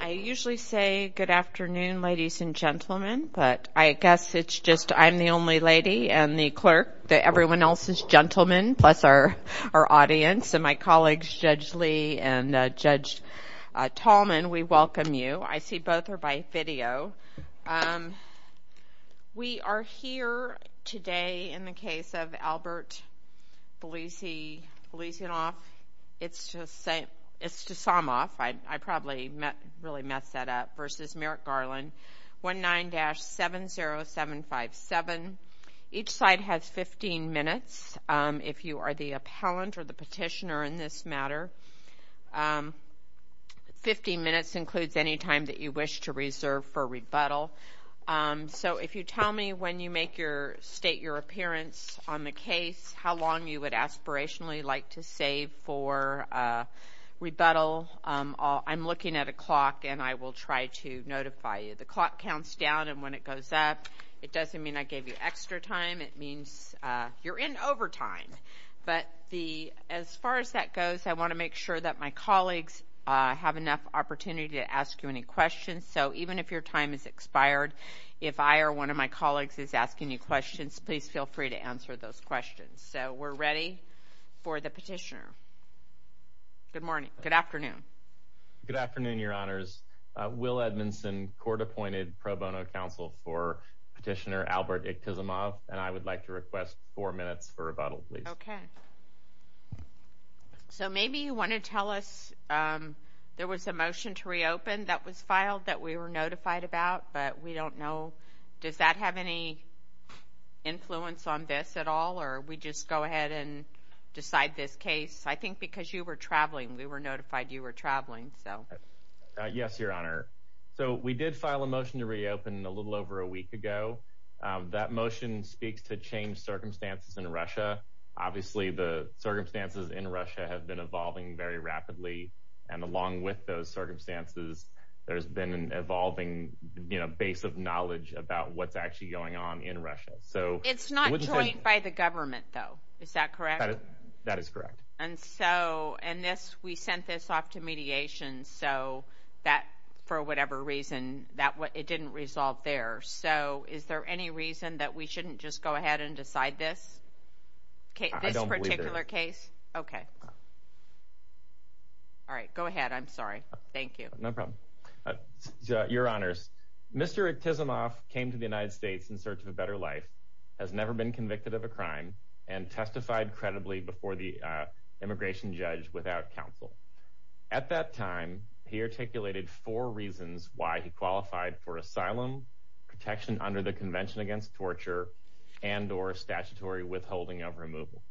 I usually say good afternoon ladies and gentlemen but I guess it's just I'm the only lady and the clerk that everyone else is gentlemen plus our audience and my colleagues Judge Lee and Judge Tallman we welcome you. I see both are by video. We are here today in the Iktisamov, I probably really messed that up, versus Merrick Garland, 19-70757. Each side has 15 minutes. If you are the appellant or the petitioner in this matter, 15 minutes includes any time that you wish to reserve for rebuttal. So if you tell me when you make your state your appearance on the case, how long you would aspirationally like to save for rebuttal, I'm looking at a clock and I will try to notify you. The clock counts down and when it goes up it doesn't mean I gave you extra time, it means you're in overtime. But as far as that goes I want to make sure that my colleagues have enough opportunity to ask you any questions. So even if your time is expired, if I or one of my colleagues is asking you questions, please feel free to answer those questions. So we're ready for the petitioner. Good morning, good afternoon. Good afternoon, your honors. Will Edmondson, court-appointed pro bono counsel for petitioner Albert Iktisamov and I would like to request four minutes for rebuttal, please. Okay. So maybe you want to tell us there was a motion to reopen a case that you were notified about, but we don't know. Does that have any influence on this at all or we just go ahead and decide this case? I think because you were traveling, we were notified you were traveling. Yes, your honor. So we did file a motion to reopen a little over a week ago. That motion speaks to changed circumstances in Russia. Obviously the circumstances in Russia have been evolving very rapidly and along with those you know, base of knowledge about what's actually going on in Russia. So it's not joined by the government though. Is that correct? That is correct. And so and this, we sent this off to mediation so that for whatever reason that it didn't resolve there. So is there any reason that we shouldn't just go ahead and reopen the case? Yes, there is. Mr. Iktisamov came to the United States in search of a better life, has never been convicted of a crime, and testified credibly before the immigration judge without counsel. At that time, he articulated four reasons why he qualified for asylum, protection under the Convention Against Torture, and or statutory withholding of removal.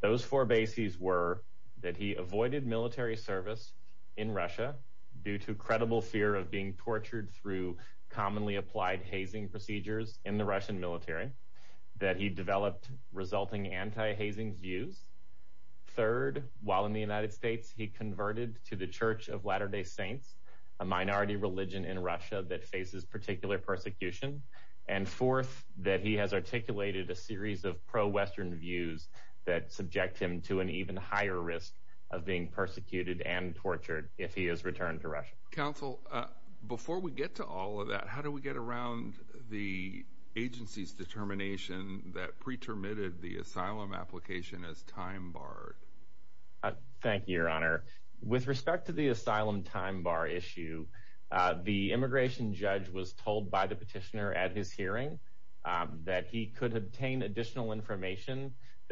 Those four bases were that he avoided military service in Russia due to credible fear of being tortured through commonly applied hazing procedures in the Russian military, that he developed resulting anti-hazing views. Third, while in the United States, he converted to the Church of Latter-day Saints, a minority religion in Russia that faces particular persecution. And fourth, that he has articulated a that subject him to an even higher risk of being persecuted and tortured if he is returned to Russia. Counsel, before we get to all of that, how do we get around the agency's determination that pretermitted the asylum application as time barred? Thank you, Your Honor. With respect to the asylum time bar issue, the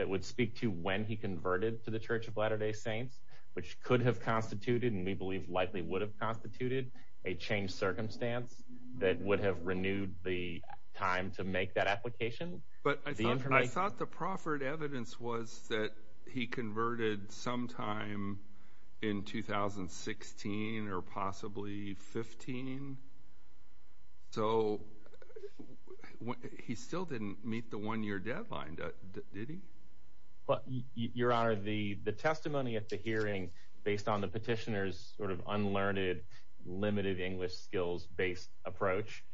would speak to when he converted to the Church of Latter-day Saints, which could have constituted, and we believe likely would have constituted, a changed circumstance that would have renewed the time to make that application. But I thought the proffered evidence was that he converted sometime in 2016 or possibly 2015. So he still didn't meet the one-year deadline, did he? Your Honor, the testimony at the hearing, based on the petitioner's sort of unlearned, limited English skills-based approach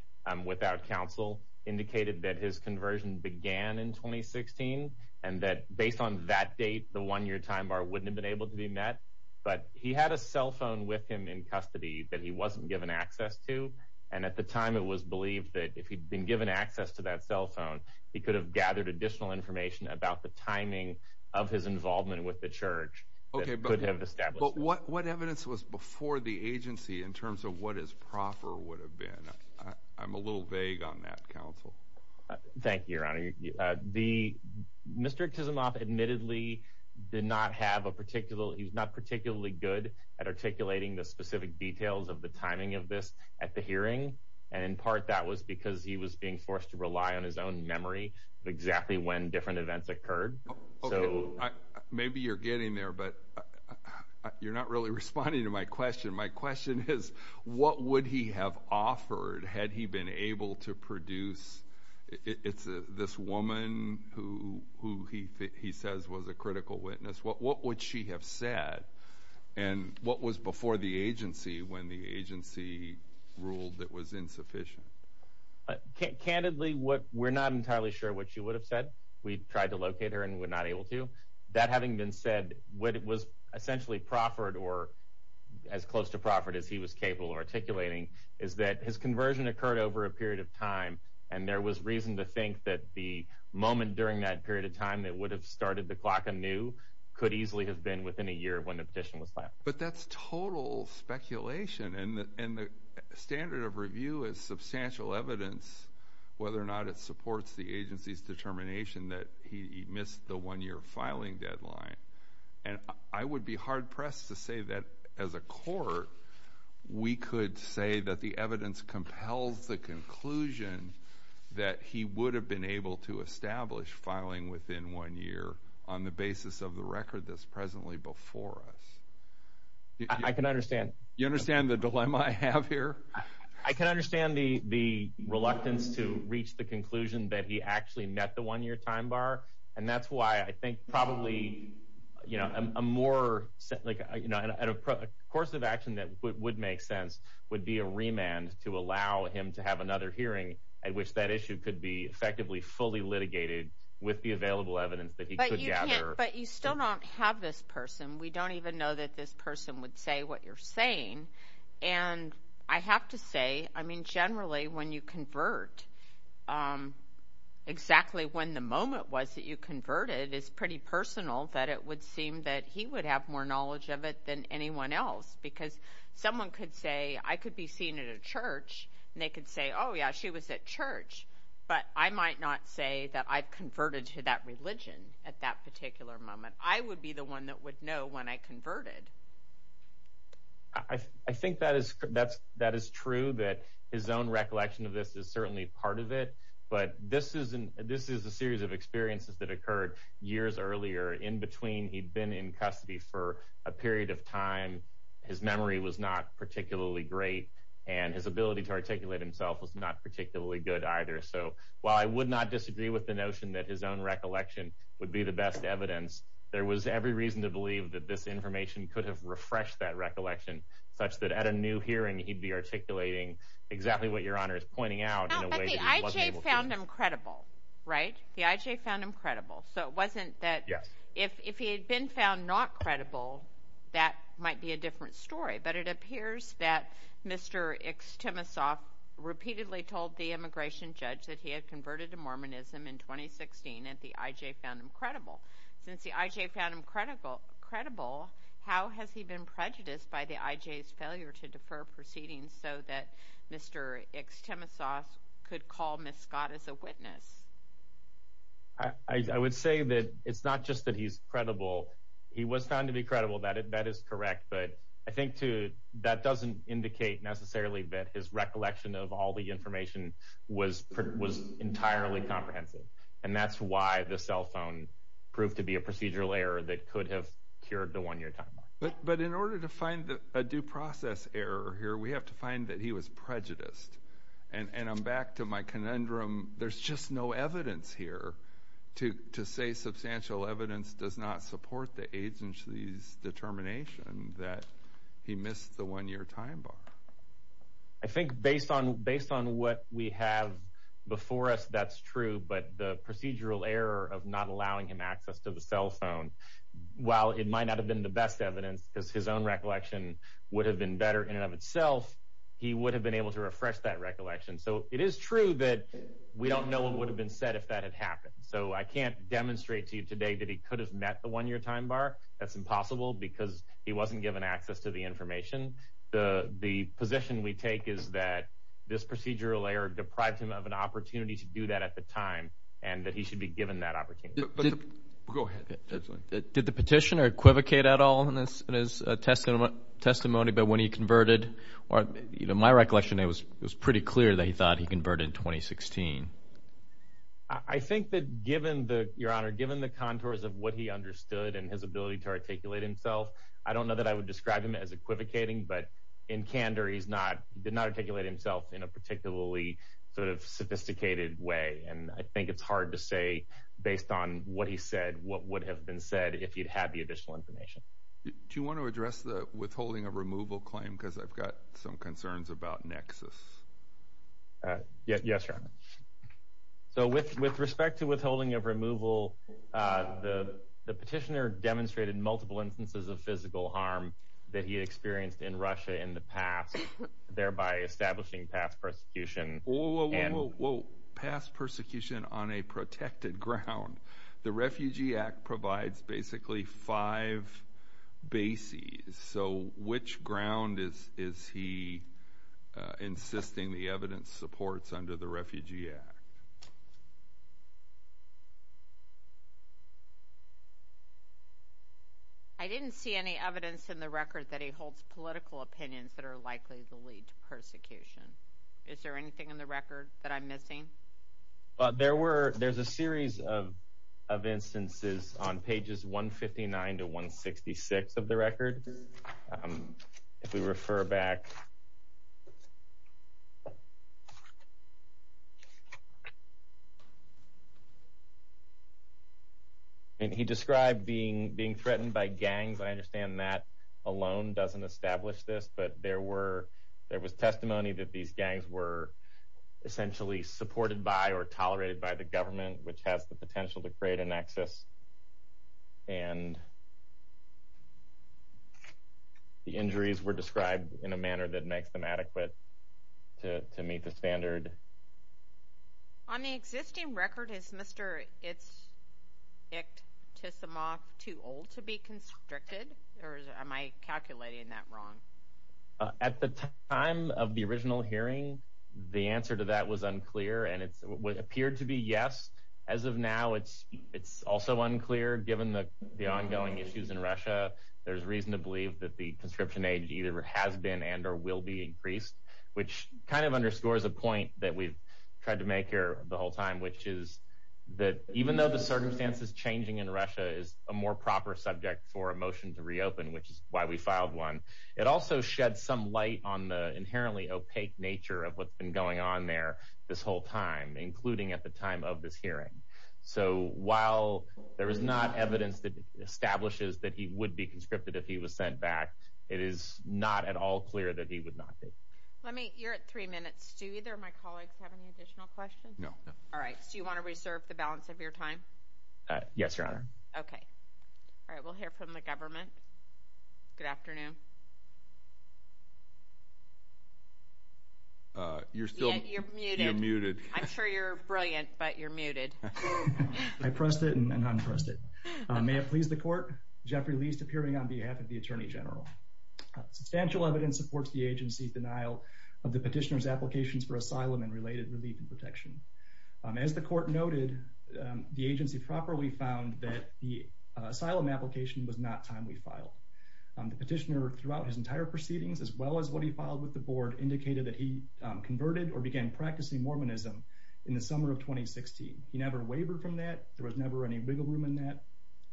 without counsel, indicated that his conversion began in 2016, and that based on that date, the one-year time bar wouldn't have been able to be met. But he had a cell phone that he wasn't given access to, and at the time, it was believed that if he'd been given access to that cell phone, he could have gathered additional information about the timing of his involvement with the Church. Okay, but what evidence was before the agency in terms of what his proffer would have been? I'm a little vague on that, counsel. Thank you, Your Honor. Mr. Chisimov admittedly did not have a particular, he was not particularly good at articulating the specific details of the timing of this at the hearing, and in part that was because he was being forced to rely on his own memory of exactly when different events occurred. Okay, maybe you're getting there, but you're not really responding to my question. My question is, what would he have offered had he been able to produce, it's this woman who he says was a critical witness, what would she have said, and what was before the agency when the agency ruled that was insufficient? Candidly, we're not entirely sure what she would have said. We tried to locate her and were not able to. That having been said, what was essentially proffered, or as close to proffered as he was capable of articulating, is that his conversion occurred over a period of time, and there was reason to think that the moment during that period of time that would have started the clock anew could easily have been within a year when the petition was filed. But that's total speculation, and the standard of review is substantial evidence whether or not it supports the agency's determination that he missed the one-year filing deadline, and I would be hard pressed to say that as a court we could say that the evidence compels the conclusion that he would have been able to establish filing within one year on the basis of the record that's presently before us. I can understand. You understand the dilemma I have here? I can understand the reluctance to reach the conclusion that he actually met the one-year time bar, and that's why I think probably a course of action that would make sense would be a remand to allow him to have another hearing at which that issue could be effectively fully litigated with the available evidence that he could gather. But you still don't have this person. I would be the one that would know when I converted. There was every reason to believe that this information could have refreshed that recollection such that at a new hearing he'd be articulating exactly what Your Honor is pointing out in a way that he wasn't able to. The I.J. found him credible, right? The I.J. found him credible. Yes. So it wasn't that if he had been found not credible that might be a different story. But it appears that Mr. Ixtenisof repeatedly told the immigration judge that he had converted to Mormonism in 2016 and the I.J. found him credible. Since the I.J. found him credible, how has he been prejudiced by the I.J.'s failure to defer proceedings so that Mr. Ixtenisof could call Ms. Scott as a witness? I would say that it's not just that he's credible. He was found to be credible. That is correct. But I think, too, that doesn't indicate necessarily that his recollection of all the information was entirely comprehensive. And that's why the cell phone proved to be a procedural error that could have cured the one you're talking about. But in order to find a due process error here, we have to find that he was prejudiced. And I'm back to my conundrum. There's just no evidence here to say substantial evidence does not support the agency's determination that he missed the one-year time bar. I think based on what we have before us, that's true. But the procedural error of not allowing him access to the cell phone, while it might not have been the best evidence because his own recollection would have been better in and of itself, he would have been able to refresh that recollection. So it is true that we don't know what would have been said if that had happened. So I can't demonstrate to you today that he could have met the one-year time bar. That's impossible because he wasn't given access to the information. The position we take is that this procedural error deprived him of an opportunity to do that at the time and that he should be given that opportunity. Go ahead. Did the petitioner equivocate at all in his testimony about when he converted? My recollection is it was pretty clear that he thought he converted in 2016. I think that given the contours of what he understood and his ability to articulate himself, I don't know that I would describe him as equivocating. But in candor, he did not articulate himself in a particularly sort of sophisticated way. And I think it's hard to say based on what he said what would have been said if he'd had the additional information. Do you want to address the withholding of removal claim? Because I've got some concerns about nexus. Yes, sir. So with respect to withholding of removal, the petitioner demonstrated multiple instances of physical harm that he experienced in Russia in the past, thereby establishing past persecution. Whoa, whoa, whoa, whoa. Past persecution on a protected ground. The Refugee Act provides basically five bases. So which ground is he insisting the evidence supports under the Refugee Act? I didn't see any evidence in the record that he holds political opinions that are likely to lead to persecution. Is there anything in the record that I'm missing? There's a series of instances on pages 159 to 166 of the record. If we refer back, he described being threatened by gangs. I understand that alone doesn't establish this. But there was testimony that these gangs were essentially supported by or tolerated by the government, which has the potential to create a nexus. And the injuries were described in a manner that makes them adequate to meet the standard. On the existing record, is Mr. Itzik Tsimok too old to be constricted? Or am I calculating that wrong? At the time of the original hearing, the answer to that was unclear. And it appeared to be yes. As of now, it's also unclear. Given the ongoing issues in Russia, there's reason to believe that the conscription age either has been and or will be increased, which kind of underscores a point that we've tried to make here the whole time, which is that even though the circumstances changing in Russia is a more proper subject for a motion to reopen, which is why we filed one, it also sheds some light on the inherently opaque nature of what's been going on there this whole time, including at the time of this hearing. So while there is not evidence that establishes that he would be conscripted if he was sent back, it is not at all clear that he would not be. You're at three minutes. Do either of my colleagues have any additional questions? No. All right. So you want to reserve the balance of your time? Yes, Your Honor. Okay. All right. We'll hear from the government. Good afternoon. You're muted. I'm sure you're brilliant, but you're muted. I pressed it and unpressed it. May it please the court, Jeffrey Leist appearing on behalf of the Attorney General. Substantial evidence supports the agency's denial of the petitioner's applications for asylum and related relief and protection. As the court noted, the agency properly found that the asylum application was not timely filed. The petitioner, throughout his entire proceedings, as well as what he filed with the board, indicated that he converted or began practicing Mormonism in the summer of 2016. He never wavered from that. There was never any wiggle room in that.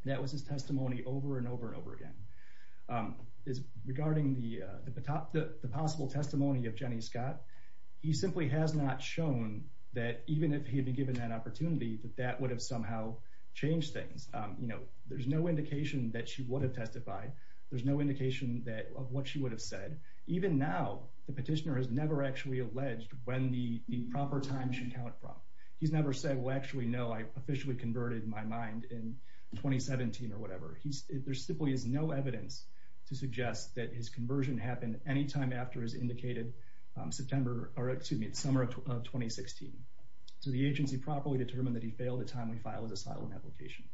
That was his testimony over and over and over again. Regarding the possible testimony of Jenny Scott, he simply has not shown that even if he had been given that opportunity, that that would have somehow changed things. There's no indication that she would have testified. There's no indication of what she would have said. Even now, the petitioner has never actually alleged when the proper time should count from. He's never said, well, actually, no, I officially converted my mind in 2017 or whatever. There simply is no evidence to suggest that his conversion happened any time after his indicated September or, excuse me, the summer of 2016. So the agency properly determined that he failed a timely filed asylum application.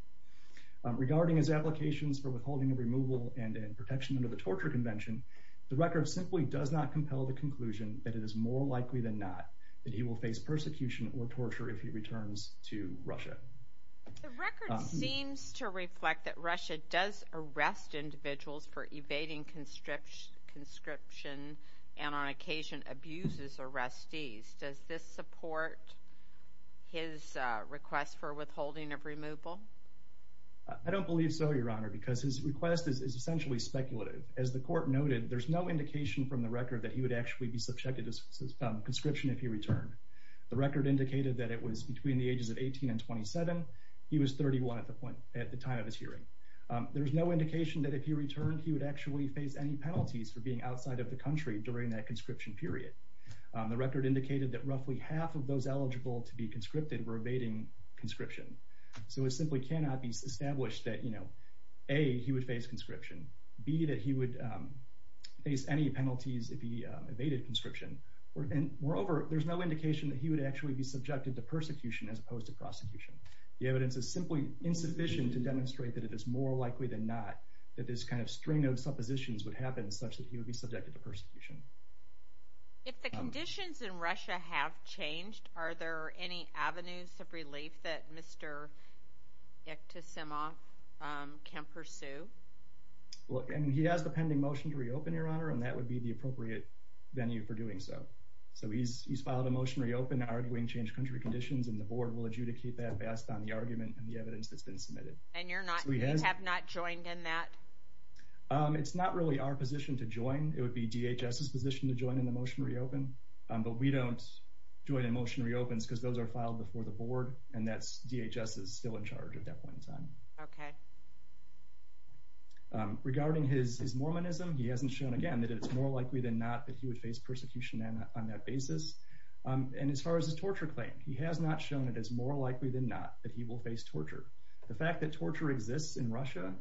Regarding his applications for withholding of removal and protection under the torture convention, the record simply does not compel the conclusion that it is more likely than not that he will face persecution or torture if he returns to Russia. The record seems to reflect that Russia does arrest individuals for evading conscription and on occasion abuses arrestees. Does this support his request for withholding of removal? I don't believe so, Your Honor, because his request is essentially speculative. As the court noted, there's no indication from the record that he would actually be subjected to conscription if he returned. The record indicated that it was between the ages of 18 and 27. He was 31 at the time of his hearing. There's no indication that if he returned, he would actually face any penalties for being outside of the country during that conscription period. The record indicated that roughly half of those eligible to be conscripted were evading conscription. So it simply cannot be established that, you know, A, he would face conscription, B, that he would face any penalties if he evaded conscription. Moreover, there's no indication that he would actually be subjected to persecution as opposed to prosecution. The evidence is simply insufficient to demonstrate that it is more likely than not that this kind of string of suppositions would happen such that he would be subjected to persecution. If the conditions in Russia have changed, are there any avenues of relief that Mr. Ektasema can pursue? Look, he has the pending motion to reopen, Your Honor, and that would be the appropriate venue for doing so. So he's filed a motion to reopen arguing changed country conditions, and the board will adjudicate that based on the argument and the evidence that's been submitted. And you have not joined in that? It's not really our position to join. It would be DHS's position to join in the motion to reopen. But we don't join in motion to reopen because those are filed before the board, and that's DHS's still in charge at that point in time. Okay. Regarding his Mormonism, he hasn't shown, again, that it's more likely than not that he would face persecution on that basis. And as far as his torture claim, he has not shown it as more likely than not that he will face torture. The fact that torture exists in Russia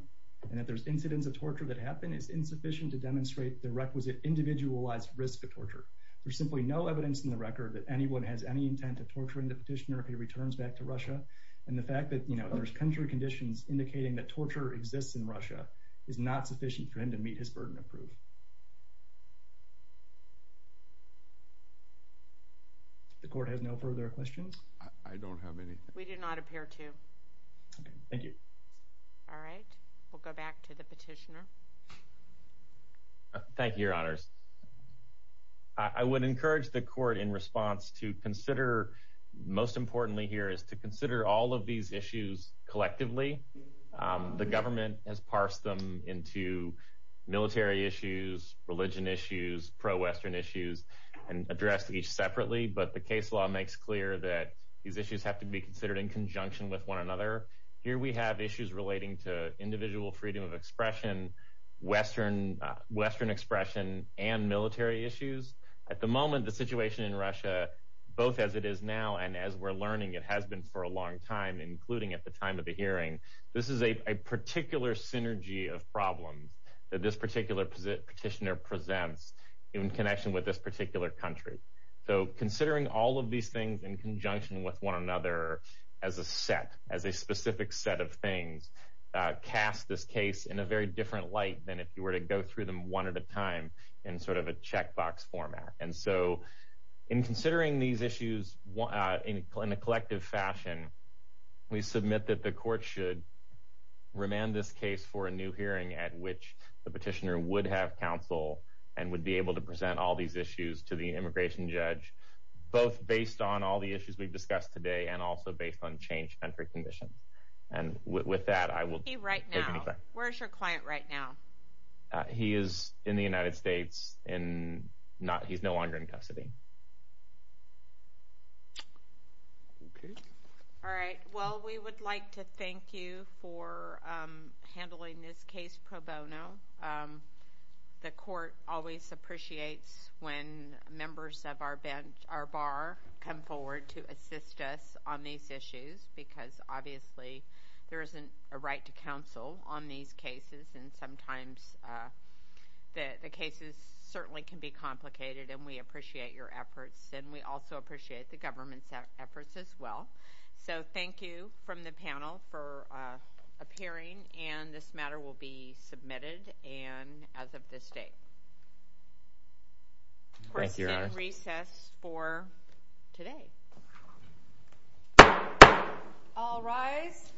and that there's incidents of torture that happen is insufficient to demonstrate the requisite individualized risk of torture. There's simply no evidence in the record that anyone has any intent of torturing the petitioner if he returns back to Russia, and the fact that, you know, there's country conditions indicating that torture exists in Russia is not sufficient for him to meet his burden of proof. The court has no further questions? I don't have any. We do not appear to. Okay. Thank you. All right. We'll go back to the petitioner. Thank you, Your Honors. I would encourage the court in response to consider, most importantly here, is to consider all of these issues collectively. The government has parsed them into military issues, religion issues, pro-Western issues, and addressed each separately, but the case law makes clear that these issues have to be considered in conjunction with one another. Here we have issues relating to individual freedom of expression, Western expression, and military issues. At the moment, the situation in Russia, both as it is now and as we're learning it has been for a long time, including at the time of the hearing, this is a particular synergy of problems that this particular petitioner presents in connection with this particular country. So considering all of these things in conjunction with one another as a set, as a specific set of things, casts this case in a very different light than if you were to go through them one at a time in sort of a checkbox format. And so in considering these issues in a collective fashion, we submit that the court should remand this case for a new hearing at which the petitioner would have counsel and would be able to present all these issues to the immigration judge, both based on all the issues we've discussed today and also based on change of entry conditions. And with that, I will take any questions. Where is he right now? Where is your client right now? He is in the United States. He's no longer in custody. All right. Well, we would like to thank you for handling this case pro bono. The court always appreciates when members of our bar come forward to assist us on these issues because obviously there isn't a right to counsel on these cases and sometimes the cases certainly can be complicated, and we appreciate your efforts, and we also appreciate the government's efforts as well. So thank you from the panel for appearing, and this matter will be submitted as of this date. Court is in recess for today. All rise.